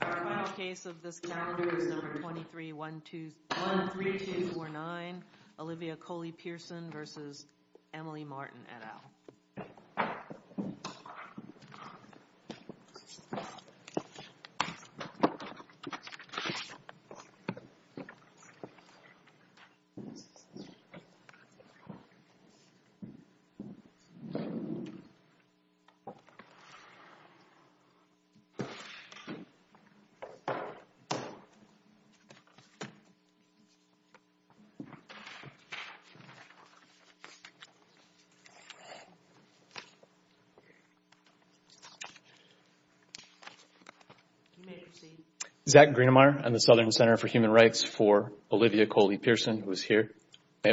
The final case of this calendar is number 23-13249. Olivia Coley-Pearson v. Emily Martin et al. Zach Greenemeier and the Southern Center for Human Rights for Olivia Coley-Pearson who is here. It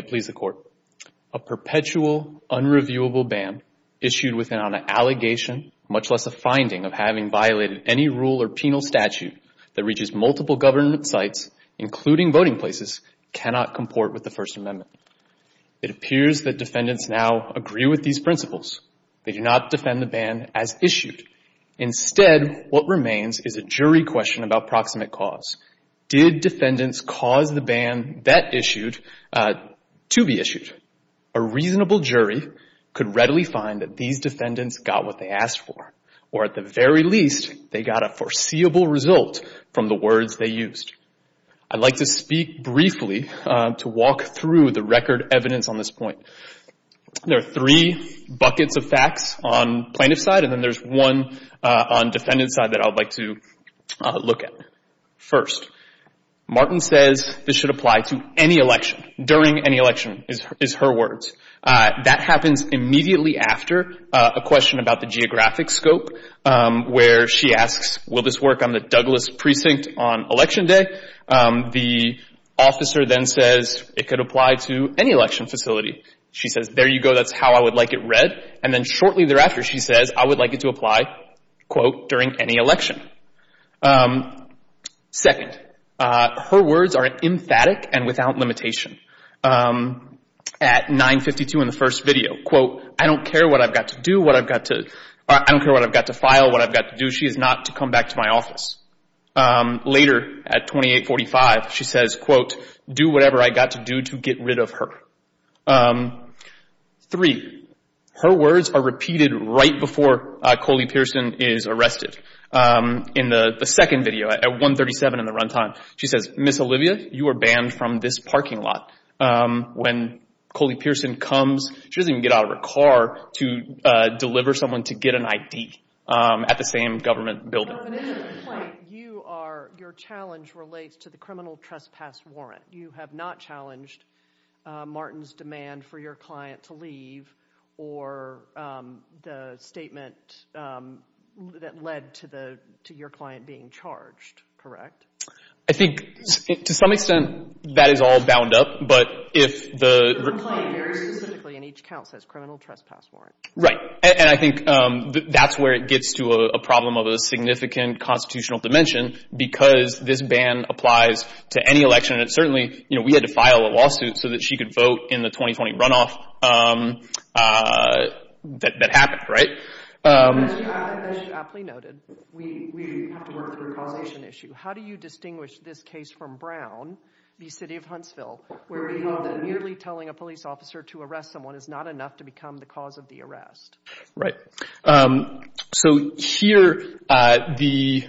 appears that defendants now agree with these principles. They do not defend the ban as issued. Instead, what remains is a jury question about proximate cause. Did defendants cause the ban that issued to be issued? A reasonable jury could readily find that these defendants got what they asked for. Or at the very least, they got a foreseeable result from the words they used. I'd like to speak briefly to walk through the record evidence on this point. There are three buckets of facts on plaintiff's side and then there's one on defendant's side that I'd like to look at. First, Martin says this should apply to any election. During any election is her words. That happens immediately after a question about the geographic scope where she asks, will this work on the Douglas precinct on election day? The officer then says it could apply to any election facility. She says, there you go. That's how I would like it read. And then shortly thereafter, she says, I would like it to apply, quote, during any election. Second, her words are emphatic and without limitation. At 9.52 in the first video, quote, I don't care what I've got to do, what I've got to, I don't care what I've got to file, what I've got to do. She is not to come back to my office. Later, at 28.45, she says, quote, do whatever I've got to do to get rid of her. Three, her words are repeated right before Coley Pearson is arrested. In the second video, at 1.37 in the run time, she says, Miss Olivia, you are banned from this parking lot. When Coley Pearson comes, she doesn't even get out of her car to deliver someone to get an ID at the same government building. Your challenge relates to the criminal trespass warrant. You have not challenged Martin's demand for your client to leave or the statement that led to your client being charged, correct? I think, to some extent, that is all bound up, but if the- Complained very specifically, and each count says criminal trespass warrant. Right, and I think that's where it gets to a problem of a significant constitutional dimension because this ban applies to any election, and certainly we had to file a lawsuit so that she could vote in the 2020 runoff that happened, right? As you aptly noted, we have to work through a causation issue. How do you distinguish this case from Brown v. City of Huntsville, where we know that merely telling a police officer to arrest someone is not enough to become the cause of the arrest? Right. So here, the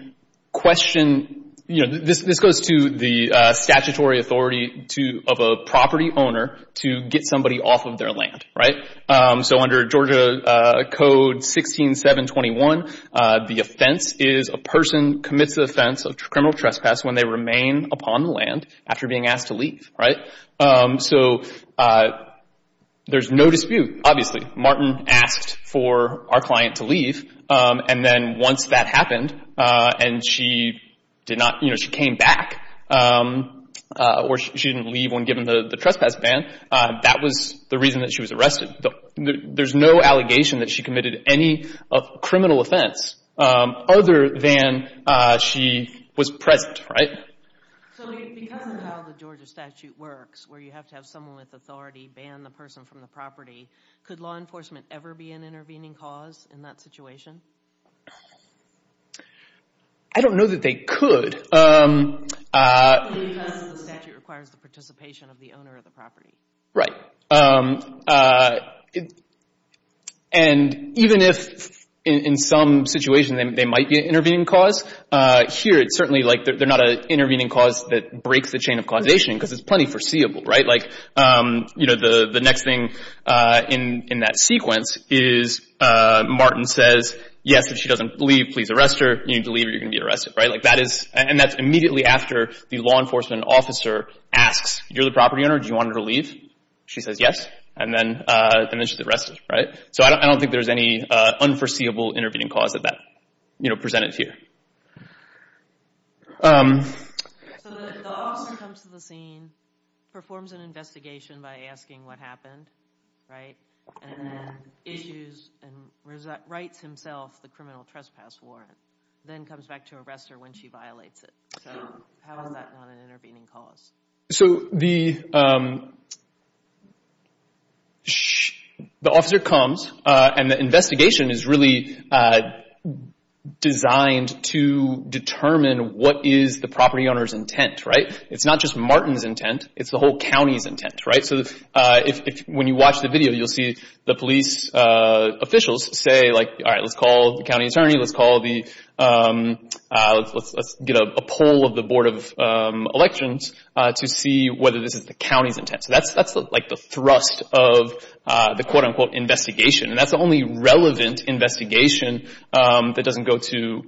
question- This goes to the statutory authority of a property owner to get somebody off of their land, right? So under Georgia Code 16721, the offense is a person commits the offense of criminal trespass when they remain upon the land after being asked to leave, right? So there's no dispute, obviously. Martin asked for our client to leave, and then once that happened, and she did not- You know, she came back, or she didn't leave when given the trespass ban. That was the reason that she was arrested. There's no allegation that she committed any criminal offense other than she was present, right? So because of how the Georgia statute works, where you have to have someone with authority ban the person from the property, could law enforcement ever be an intervening cause in that situation? I don't know that they could. Because the statute requires the participation of the owner of the property. Right. And even if in some situations they might be an intervening cause, here it's certainly like they're not an intervening cause that breaks the chain of causation because it's plenty foreseeable, right? Like, you know, the next thing in that sequence is Martin says, yes, if she doesn't leave, please arrest her. You need to leave or you're going to be arrested, right? And that's immediately after the law enforcement officer asks, you're the property owner, do you want her to leave? She says yes, and then she's arrested, right? So I don't think there's any unforeseeable intervening cause that that, you know, presented here. So the officer comes to the scene, performs an investigation by asking what happened, right? And then issues and writes himself the criminal trespass warrant, then comes back to arrest her when she violates it. So how is that not an intervening cause? So the officer comes and the investigation is really designed to determine what is the property owner's intent, right? It's not just Martin's intent, it's the whole county's intent, right? So when you watch the video, you'll see the police officials say, like, all right, let's call the county attorney, let's call the, let's get a poll of the Board of Elections to see whether this is the county's intent. So that's like the thrust of the quote-unquote investigation, and that's the only relevant investigation that doesn't go to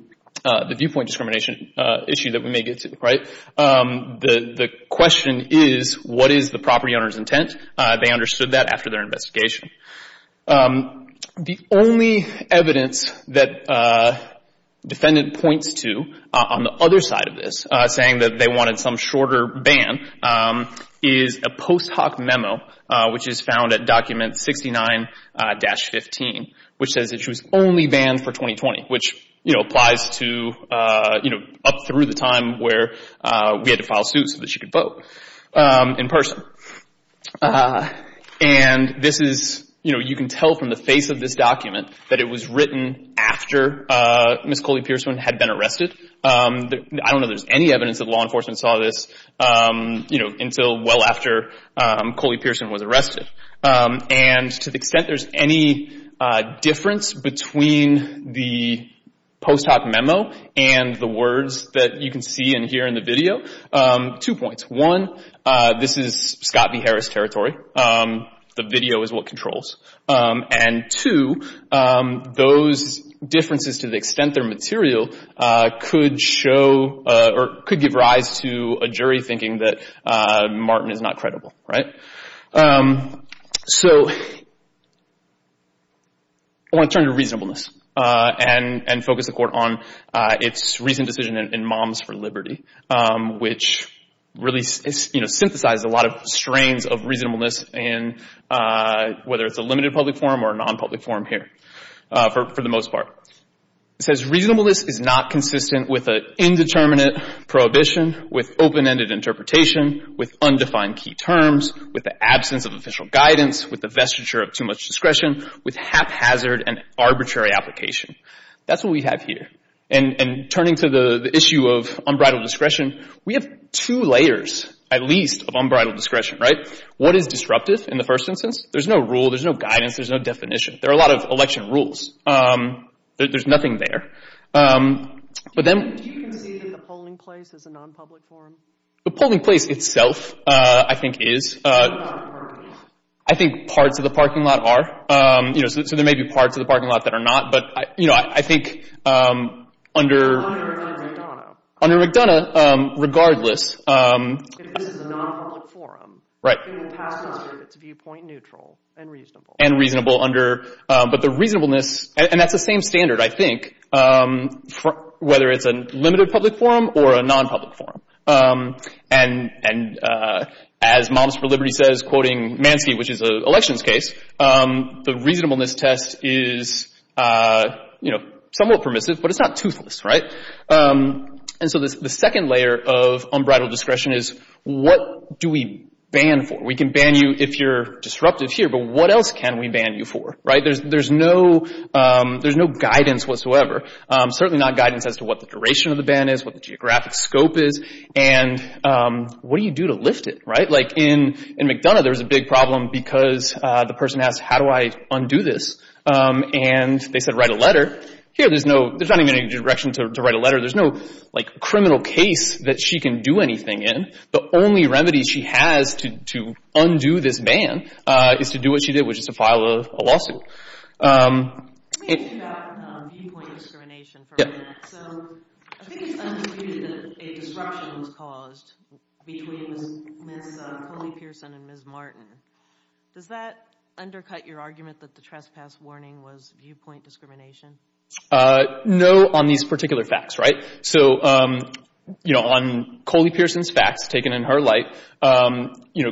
the viewpoint discrimination issue that we may get to, right? The question is, what is the property owner's intent? They understood that after their investigation. The only evidence that defendant points to on the other side of this, saying that they wanted some shorter ban, is a post hoc memo, which is found at document 69-15, which says that she was only banned for 2020, which, you know, applies to, you know, up through the time where we had to file suits so that she could vote in person. And this is, you know, you can tell from the face of this document that it was written after Ms. Coley-Pierceman had been arrested. I don't know there's any evidence that law enforcement saw this, you know, until well after Coley-Pierceman was arrested. And to the extent there's any difference between the post hoc memo and the words that you can see in here in the video, two points. One, this is Scott v. Harris territory. The video is what controls. And two, those differences to the extent they're material could show or could give rise to a jury thinking that Martin is not credible, right? So I want to turn to reasonableness and focus the court on its recent decision in Moms for Liberty, which really, you know, synthesizes a lot of strains of reasonableness, whether it's a limited public forum or a non-public forum here for the most part. It says reasonableness is not consistent with an indeterminate prohibition, with open-ended interpretation, with undefined key terms, with the absence of official guidance, with the vestiture of too much discretion, with haphazard and arbitrary application. That's what we have here. And turning to the issue of unbridled discretion, we have two layers at least of unbridled discretion, right? What is disruptive in the first instance? There's no rule. There's no guidance. There's no definition. There are a lot of election rules. There's nothing there. But then— Do you concede that the polling place is a non-public forum? The polling place itself, I think, is. It's not a parking lot. I think parts of the parking lot are. You know, so there may be parts of the parking lot that are not. But, you know, I think under— Under McDonough. Under McDonough, regardless— This is a non-public forum. Right. And it passes with its viewpoint neutral and reasonable. And reasonable under—but the reasonableness—and that's the same standard, I think, whether it's a limited public forum or a non-public forum. And as Moms for Liberty says, quoting Mansky, which is an elections case, the reasonableness test is, you know, somewhat permissive, but it's not toothless, right? And so the second layer of unbridled discretion is what do we ban for? We can ban you if you're disruptive here, but what else can we ban you for, right? There's no guidance whatsoever. Certainly not guidance as to what the duration of the ban is, what the geographic scope is, and what do you do to lift it, right? Like in McDonough, there was a big problem because the person asked, how do I undo this? And they said write a letter. Here, there's no—there's not even any direction to write a letter. There's no, like, criminal case that she can do anything in. The only remedy she has to undo this ban is to do what she did, which is to file a lawsuit. Let me ask you about viewpoint discrimination for a minute. So I think it's undisputed that a disruption was caused between Ms. Coley-Pearson and Ms. Martin. Does that undercut your argument that the trespass warning was viewpoint discrimination? No, on these particular facts, right? So, you know, on Coley-Pearson's facts taken in her light, you know,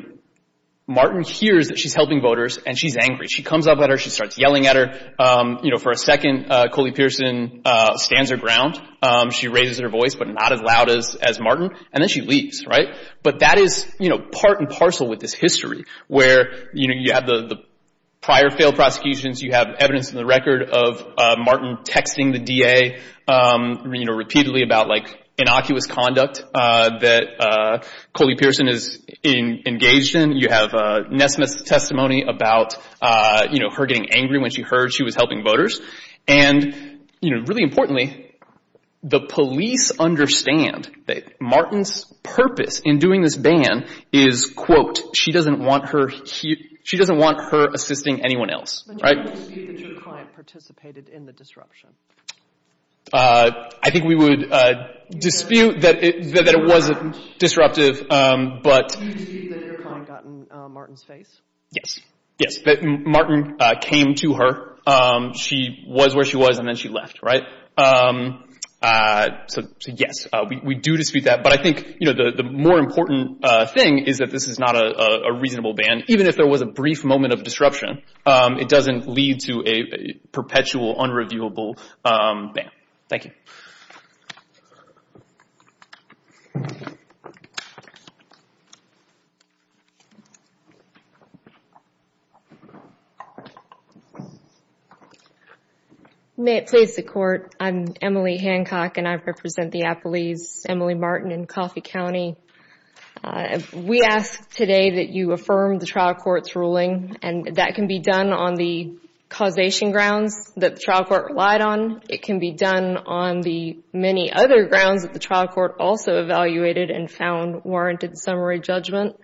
Martin hears that she's helping voters, and she's angry. She comes up at her. She starts yelling at her. You know, for a second, Coley-Pearson stands her ground. She raises her voice, but not as loud as Martin, and then she leaves, right? But that is, you know, part and parcel with this history where, you know, you have the prior failed prosecutions. You have evidence in the record of Martin texting the DA, you know, repeatedly about, like, innocuous conduct that Coley-Pearson is engaged in. You have Nesmith's testimony about, you know, her getting angry when she heard she was helping voters. And, you know, really importantly, the police understand that Martin's purpose in doing this ban is, quote, she doesn't want her assisting anyone else, right? But you wouldn't dispute that your client participated in the disruption? I think we would dispute that it wasn't disruptive, but— You would dispute that your client got in Martin's face? Yes. Yes. Martin came to her. She was where she was, and then she left, right? So, yes, we do dispute that. But I think, you know, the more important thing is that this is not a reasonable ban. Even if there was a brief moment of disruption, it doesn't lead to a perpetual, unreviewable ban. Thank you. May it please the Court, I'm Emily Hancock, and I represent the Appalese, Emily Martin in Coffey County. We ask today that you affirm the trial court's ruling, and that can be done on the causation grounds that the trial court relied on. It can be done on the many other grounds that the trial court also evaluated and found warranted summary judgment.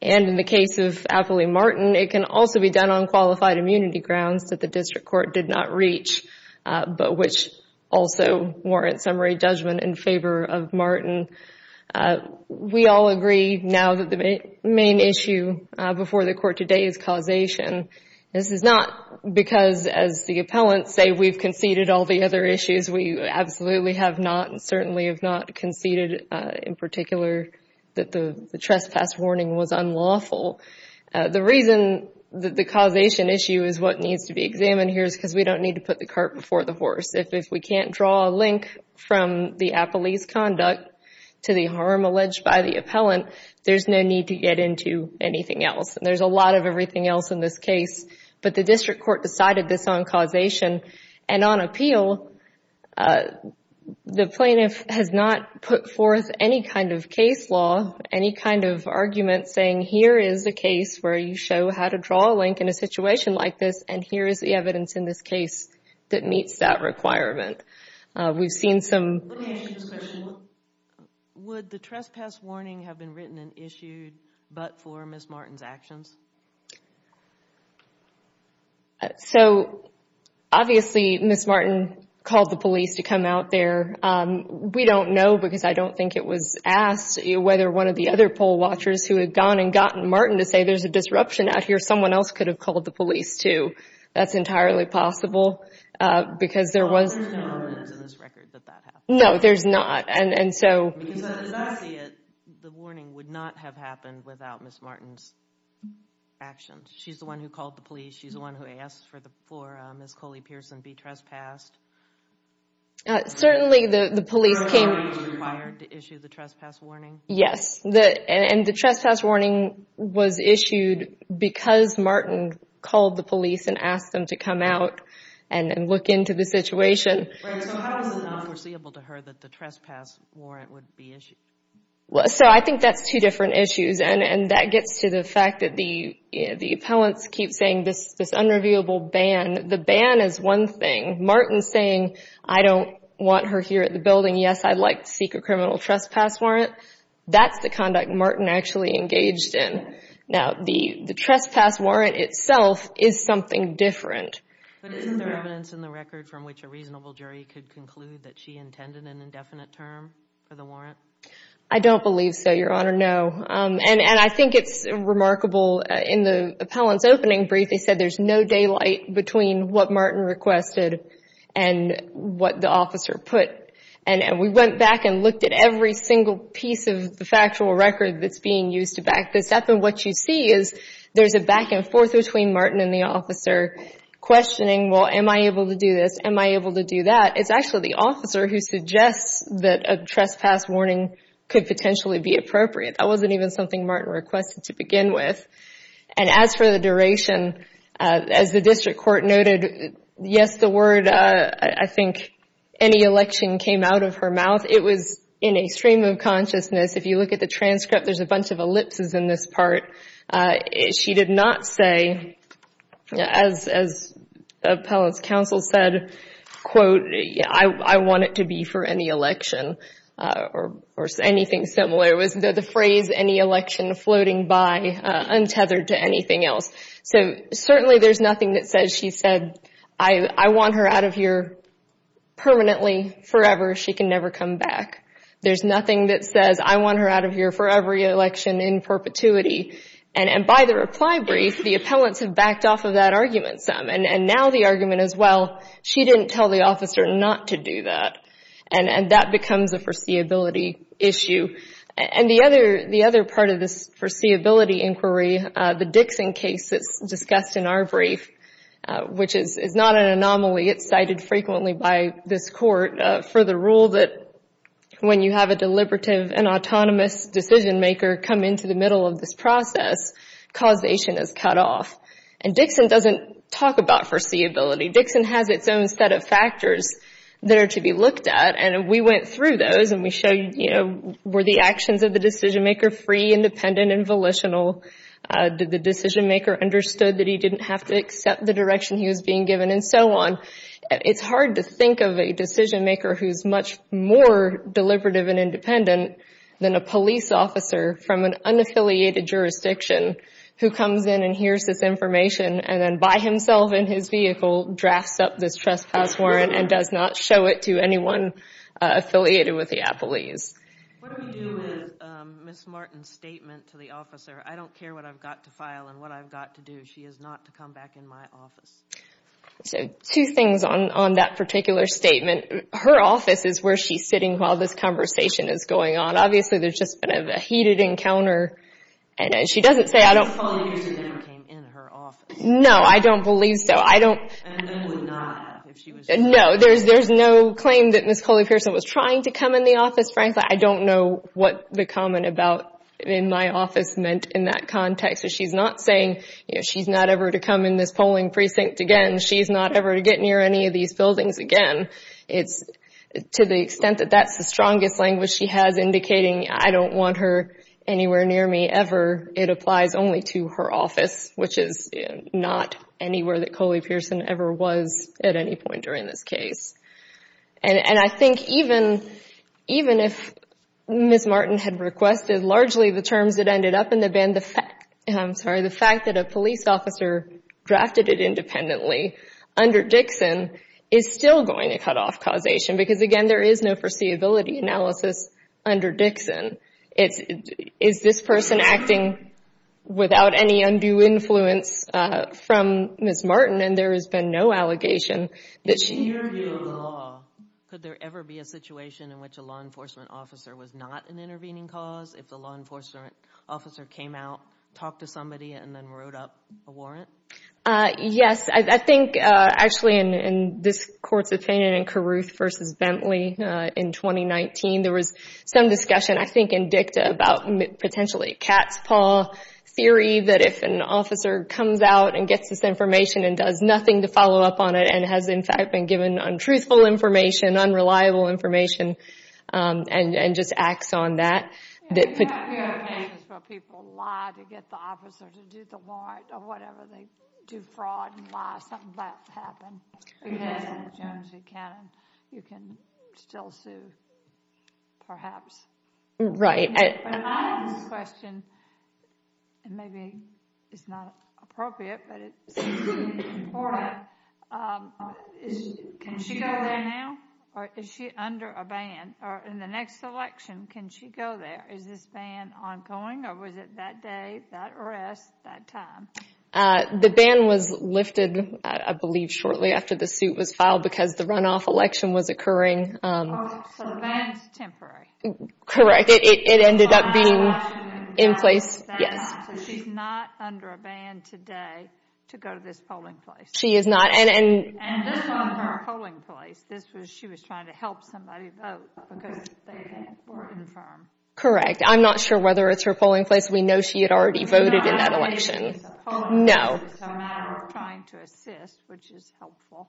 And in the case of Appalese Martin, it can also be done on qualified immunity grounds that the district court did not reach, but which also warrant summary judgment in favor of Martin. We all agree now that the main issue before the Court today is causation. This is not because, as the appellants say, we've conceded all the other issues. We absolutely have not and certainly have not conceded, in particular, that the trespass warning was unlawful. The reason that the causation issue is what needs to be examined here is because we don't need to put the cart before the horse. If we can't draw a link from the Appalese conduct to the harm alleged by the appellant, there's no need to get into anything else. There's a lot of everything else in this case, but the district court decided this on causation. And on appeal, the plaintiff has not put forth any kind of case law, any kind of argument saying, here is a case where you show how to draw a link in a situation like this, and here is the evidence in this case that meets that requirement. We've seen some... Let me ask you this question. Would the trespass warning have been written and issued but for Ms. Martin's actions? So, obviously, Ms. Martin called the police to come out there. We don't know because I don't think it was asked whether one of the other poll watchers who had gone and gotten Martin to say there's a disruption out here, someone else could have called the police, too. That's entirely possible because there was... There's no evidence in this record that that happened. No, there's not, and so... As I see it, the warning would not have happened without Ms. Martin's actions. She's the one who called the police. She's the one who asked for Ms. Coley-Pearson to be trespassed. Certainly, the police came... Ms. Martin was required to issue the trespass warning? Yes, and the trespass warning was issued because Martin called the police and asked them to come out and look into the situation. Right, so how is it not foreseeable to her that the trespass warrant would be issued? So, I think that's two different issues, and that gets to the fact that the appellants keep saying this unreviewable ban. The ban is one thing. Martin's saying, I don't want her here at the building. Yes, I'd like to seek a criminal trespass warrant. That's the conduct Martin actually engaged in. Now, the trespass warrant itself is something different. But is there evidence in the record from which a reasonable jury could conclude that she intended an indefinite term for the warrant? I don't believe so, Your Honor, no. And I think it's remarkable, in the appellant's opening brief, they said there's no daylight between what Martin requested and what the officer put. And we went back and looked at every single piece of the factual record that's being used to back this up, and what you see is there's a back and forth between Martin and the officer questioning, well, am I able to do this? Am I able to do that? It's actually the officer who suggests that a trespass warning could potentially be appropriate. That wasn't even something Martin requested to begin with. And as for the duration, as the district court noted, yes, the word, I think, any election came out of her mouth. It was in extreme of consciousness. If you look at the transcript, there's a bunch of ellipses in this part. She did not say, as the appellant's counsel said, quote, I want it to be for any election or anything similar. It was the phrase, any election floating by, untethered to anything else. So certainly there's nothing that says she said, I want her out of here permanently, forever. She can never come back. There's nothing that says, I want her out of here for every election in perpetuity. And by the reply brief, the appellants have backed off of that argument some. And now the argument is, well, she didn't tell the officer not to do that. And that becomes a foreseeability issue. And the other part of this foreseeability inquiry, the Dixon case that's discussed in our brief, which is not an anomaly. It's cited frequently by this court for the rule that when you have a deliberative and autonomous decision-maker come into the middle of this process, causation is cut off. And Dixon doesn't talk about foreseeability. Dixon has its own set of factors that are to be looked at. And we went through those, and we showed, you know, were the actions of the decision-maker free, independent, and volitional? Did the decision-maker understood that he didn't have to accept the direction he was being given? And so on. It's hard to think of a decision-maker who's much more deliberative and independent than a police officer from an unaffiliated jurisdiction who comes in and hears this information and then by himself in his vehicle drafts up this trespass warrant and does not show it to anyone affiliated with the appellees. What do we do with Ms. Martin's statement to the officer? I don't care what I've got to file and what I've got to do. She is not to come back in my office. So two things on that particular statement. Her office is where she's sitting while this conversation is going on. Obviously, there's just been a heated encounter. And she doesn't say, I don't— Ms. Coley Pearson never came in her office. No, I don't believe so. And then would not if she was— No, there's no claim that Ms. Coley Pearson was trying to come in the office. Frankly, I don't know what the comment about in my office meant in that context. She's not saying she's not ever to come in this polling precinct again. She's not ever to get near any of these buildings again. To the extent that that's the strongest language she has indicating, I don't want her anywhere near me ever, it applies only to her office, which is not anywhere that Coley Pearson ever was at any point during this case. And I think even if Ms. Martin had requested largely the terms that ended up in the bin, the fact that a police officer drafted it independently under Dixon is still going to cut off causation because, again, there is no foreseeability analysis under Dixon. Is this person acting without any undue influence from Ms. Martin? And there has been no allegation that she— In your view of the law, could there ever be a situation in which a law enforcement officer was not an intervening cause if the law enforcement officer came out, talked to somebody, and then wrote up a warrant? Yes. I think, actually, in this Court's opinion in Carruth v. Bentley in 2019, there was some discussion, I think, in dicta about potentially a cat's paw theory that if an officer comes out and gets this information and does nothing to follow up on it and has, in fact, been given untruthful information, unreliable information, and just acts on that— You don't hear of cases where people lie to get the officer to do the warrant or whatever. They do fraud and lie. Something like that's happened. Yes. You can still sue, perhaps. Right. I have this question, and maybe it's not appropriate, but it seems to be important. Can she go there now, or is she under a ban? Or in the next election, can she go there? Is this ban ongoing, or was it that day, that arrest, that time? The ban was lifted, I believe, shortly after the suit was filed because the runoff election was occurring. So the ban is temporary. Correct. It ended up being in place. So she's not under a ban today to go to this polling place. She is not. And this wasn't her polling place. She was trying to help somebody vote because they were infirmed. Correct. I'm not sure whether it's her polling place. We know she had already voted in that election. It's a matter of trying to assist, which is helpful.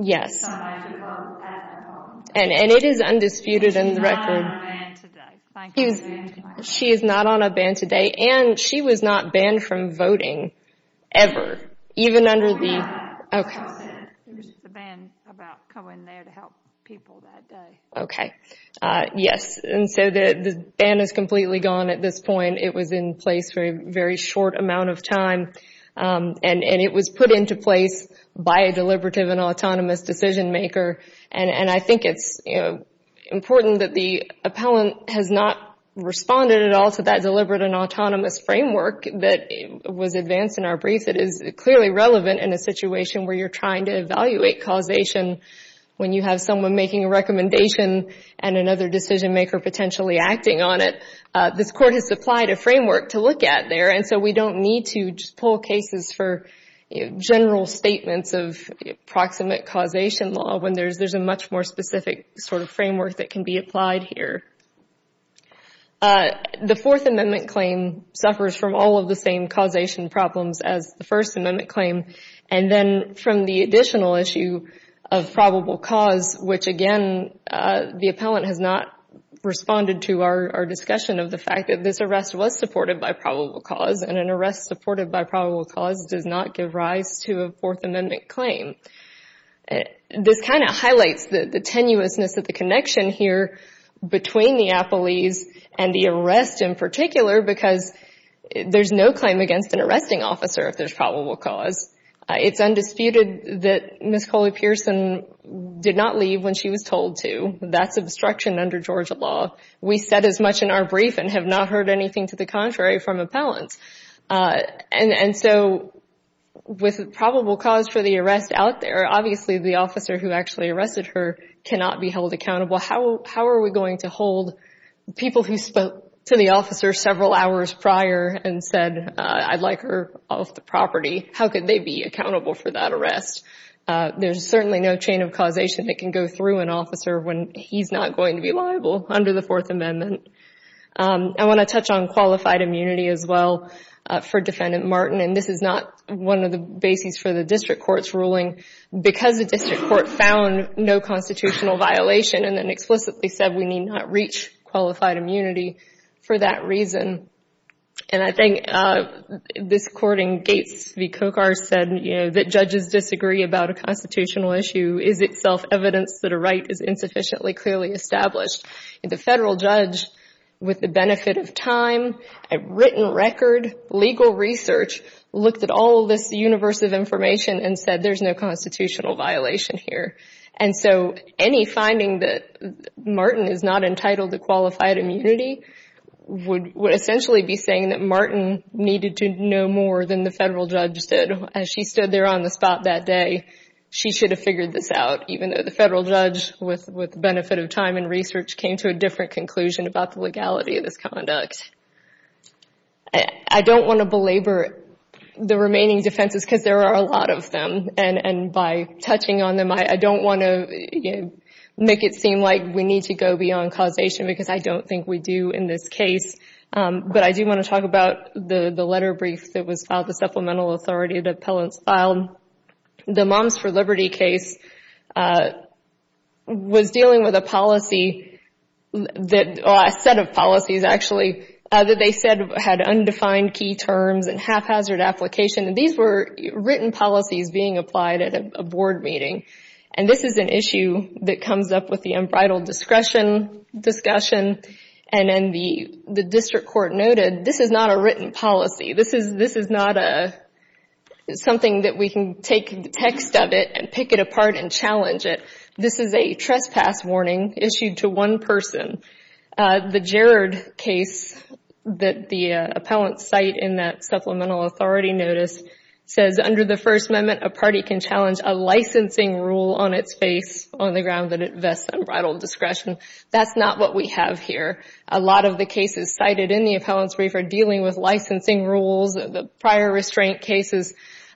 Yes. Somebody to vote at that polling place. And it is undisputed in the record. She's not on a ban today. Thank you very much. She is not on a ban today, and she was not banned from voting ever, even under the— Okay. There was a ban about going there to help people that day. Okay. Yes. And so the ban is completely gone at this point. It was in place for a very short amount of time, and it was put into place by a deliberative and autonomous decision-maker, and I think it's important that the appellant has not responded at all to that deliberate and autonomous framework that was advanced in our brief. It is clearly relevant in a situation where you're trying to evaluate causation when you have someone making a recommendation and another decision-maker potentially acting on it. This Court has supplied a framework to look at there, and so we don't need to just pull cases for general statements of proximate causation law when there's a much more specific sort of framework that can be applied here. The Fourth Amendment claim suffers from all of the same causation problems as the First Amendment claim, and then from the additional issue of probable cause, which, again, the appellant has not responded to our discussion of the fact that this arrest was supported by probable cause, and an arrest supported by probable cause does not give rise to a Fourth Amendment claim. This kind of highlights the tenuousness of the connection here between the appellees and the arrest in particular because there's no claim against an arresting officer if there's probable cause. It's undisputed that Ms. Coley-Pearson did not leave when she was told to. That's obstruction under Georgia law. We said as much in our brief and have not heard anything to the contrary from appellants. And so with probable cause for the arrest out there, obviously the officer who actually arrested her cannot be held accountable. How are we going to hold people who spoke to the officer several hours prior and said, I'd like her off the property? How could they be accountable for that arrest? There's certainly no chain of causation that can go through an officer when he's not going to be liable under the Fourth Amendment. I want to touch on qualified immunity as well for Defendant Martin, and this is not one of the bases for the district court's ruling because the district court found no constitutional violation and then explicitly said we need not reach qualified immunity for that reason. And I think this court in Gates v. Kochar said, you know, that judges disagree about a constitutional issue is itself evidence that a right is insufficiently clearly established. The federal judge, with the benefit of time, written record, legal research, looked at all this universe of information and said there's no constitutional violation here. And so any finding that Martin is not entitled to qualified immunity would essentially be saying that Martin needed to know more than the federal judge said. As she stood there on the spot that day, she should have figured this out, even though the federal judge, with the benefit of time and research, came to a different conclusion about the legality of this conduct. I don't want to belabor the remaining defenses because there are a lot of them. And by touching on them, I don't want to make it seem like we need to go beyond causation because I don't think we do in this case. But I do want to talk about the letter brief that was filed, the supplemental authority that appellants filed. The Moms for Liberty case was dealing with a set of policies, actually, that they said had undefined key terms and haphazard application. And these were written policies being applied at a board meeting. And this is an issue that comes up with the unbridled discretion discussion. And then the district court noted this is not a written policy. This is not something that we can take text of it and pick it apart and challenge it. This is a trespass warning issued to one person. The Gerard case that the appellants cite in that supplemental authority notice says, under the First Amendment, a party can challenge a licensing rule on its face on the ground that it vests unbridled discretion. That's not what we have here. A lot of the cases cited in the appellants brief are dealing with licensing rules, the prior restraint cases.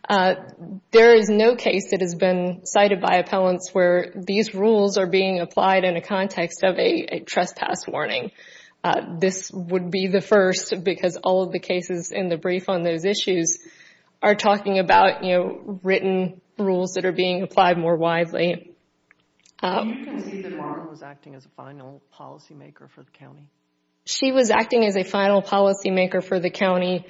There is no case that has been cited by appellants where these rules are being applied in a context of a trespass warning. This would be the first because all of the cases in the brief on those issues are talking about written rules that are being applied more widely. You can see that Mara was acting as a final policymaker for the county. She was acting as a final policymaker for the county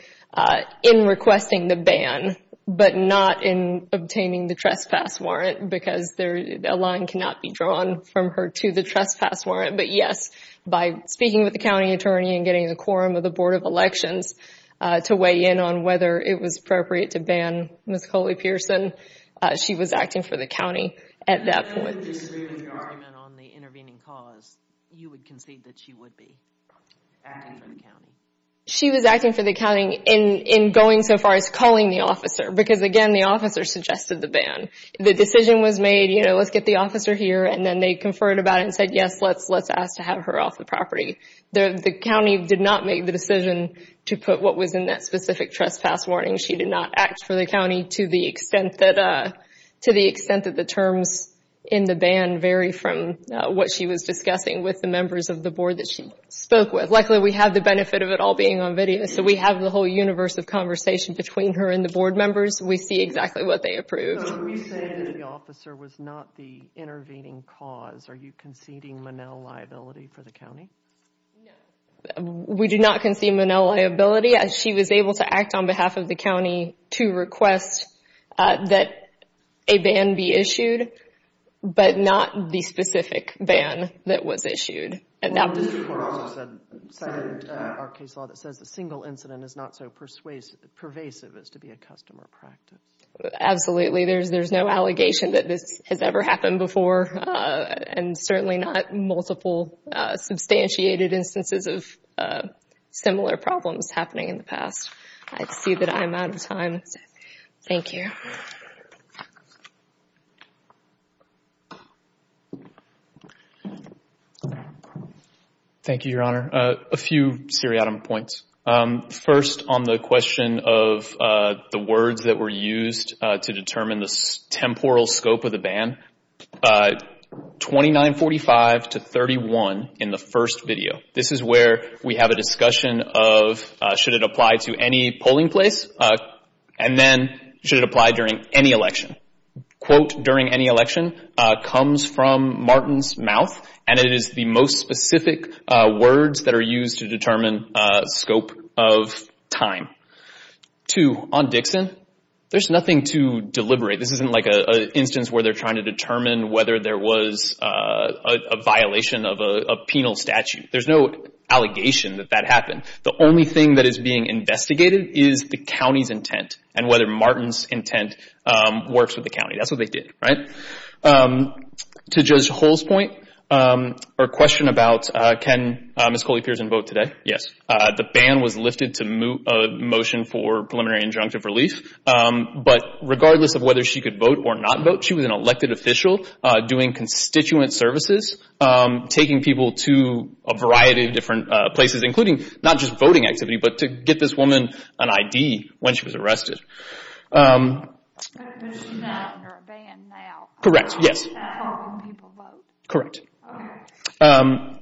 in requesting the ban but not in obtaining the trespass warrant because a line cannot be drawn from her to the trespass warrant. But, yes, by speaking with the county attorney and getting the quorum of the Board of Elections to weigh in on whether it was appropriate to ban Ms. Coley-Pearson, she was acting for the county at that point. If you had to disagree with the argument on the intervening cause, you would concede that she would be acting for the county? She was acting for the county in going so far as calling the officer because, again, the officer suggested the ban. The decision was made, you know, let's get the officer here, and then they conferred about it and said, yes, let's ask to have her off the property. The county did not make the decision to put what was in that specific trespass warning. She did not act for the county to the extent that the terms in the ban vary from what she was discussing with the members of the board that she spoke with. Luckily, we have the benefit of it all being on video, so we have the whole universe of conversation between her and the board members. We see exactly what they approved. So are you saying that the officer was not the intervening cause? Are you conceding Manel liability for the county? No, we do not concede Manel liability. She was able to act on behalf of the county to request that a ban be issued, but not the specific ban that was issued. The district court also said in our case law that says the single incident is not so pervasive as to be a customer practice. Absolutely. There's no allegation that this has ever happened before, and certainly not multiple substantiated instances of similar problems happening in the past. I see that I am out of time. Thank you. Thank you, Your Honor. A few seriatim points. First, on the question of the words that were used to determine the temporal scope of the ban, 2945 to 31 in the first video. This is where we have a discussion of should it apply to any polling place, and then should it apply during any election. Quote during any election comes from Martin's mouth, and it is the most specific words that are used to determine scope of time. Two, on Dixon, there's nothing to deliberate. This isn't like an instance where they're trying to determine whether there was a violation of a penal statute. There's no allegation that that happened. The only thing that is being investigated is the county's intent and whether Martin's intent works with the county. That's what they did, right? To Judge Hull's point or question about can Ms. Coley-Pierson vote today? Yes. The ban was lifted to a motion for preliminary injunctive relief, but regardless of whether she could vote or not vote, she was an elected official doing constituent services, taking people to a variety of different places, including not just voting activity, but to get this woman an ID when she was arrested. So she's not under a ban now? Correct, yes. How can people vote? Correct. Okay.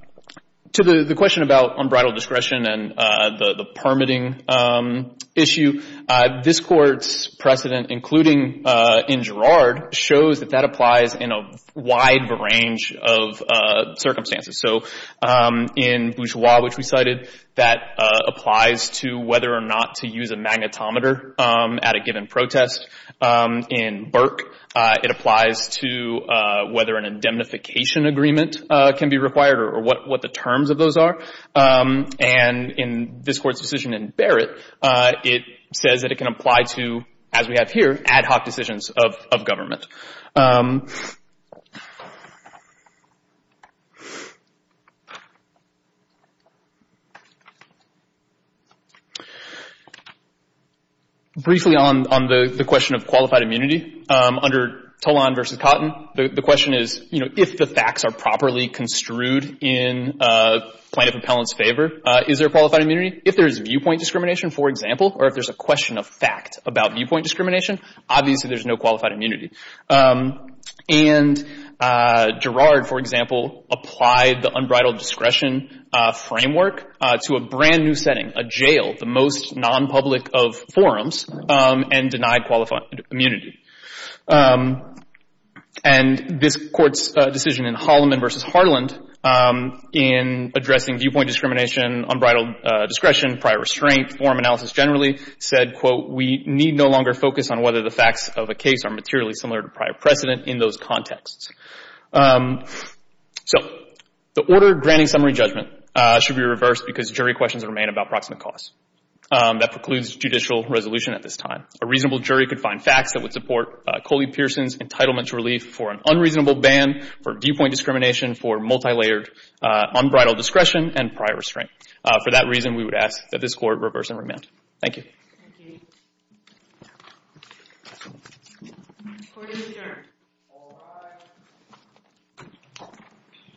To the question about unbridled discretion and the permitting issue, this Court's precedent, including in Girard, shows that that applies in a wide range of circumstances. So in Bourgeois, which we cited, that applies to whether or not to use a magnetometer at a given protest. In Burke, it applies to whether an indemnification agreement can be required or what the terms of those are. And in this Court's decision in Barrett, it says that it can apply to, as we have here, ad hoc decisions of government. Briefly on the question of qualified immunity, under Tolon v. Cotton, the question is, you know, if the facts are properly construed in plaintiff appellant's favor, is there qualified immunity? If there's viewpoint discrimination, for example, or if there's a question of fact about viewpoint discrimination, obviously there's no qualified immunity. And Girard, for example, applied the unbridled discretion framework to a brand-new setting, a jail, the most non-public of forums, and denied qualified immunity. And this Court's decision in Holloman v. Harland in addressing viewpoint discrimination, unbridled discretion, prior restraint, forum analysis generally, said, quote, we need no longer focus on whether the facts of a case are materially similar to prior precedent in those contexts. So the order granting summary judgment should be reversed because jury questions remain about proximate cause. That precludes judicial resolution at this time. A reasonable jury could find facts that would support Coley-Pearson's entitlement to relief for an unreasonable ban for viewpoint discrimination for multilayered unbridled discretion and prior restraint. For that reason, we would ask that this Court reverse and remand. Thank you. Thank you. Court is adjourned. All rise.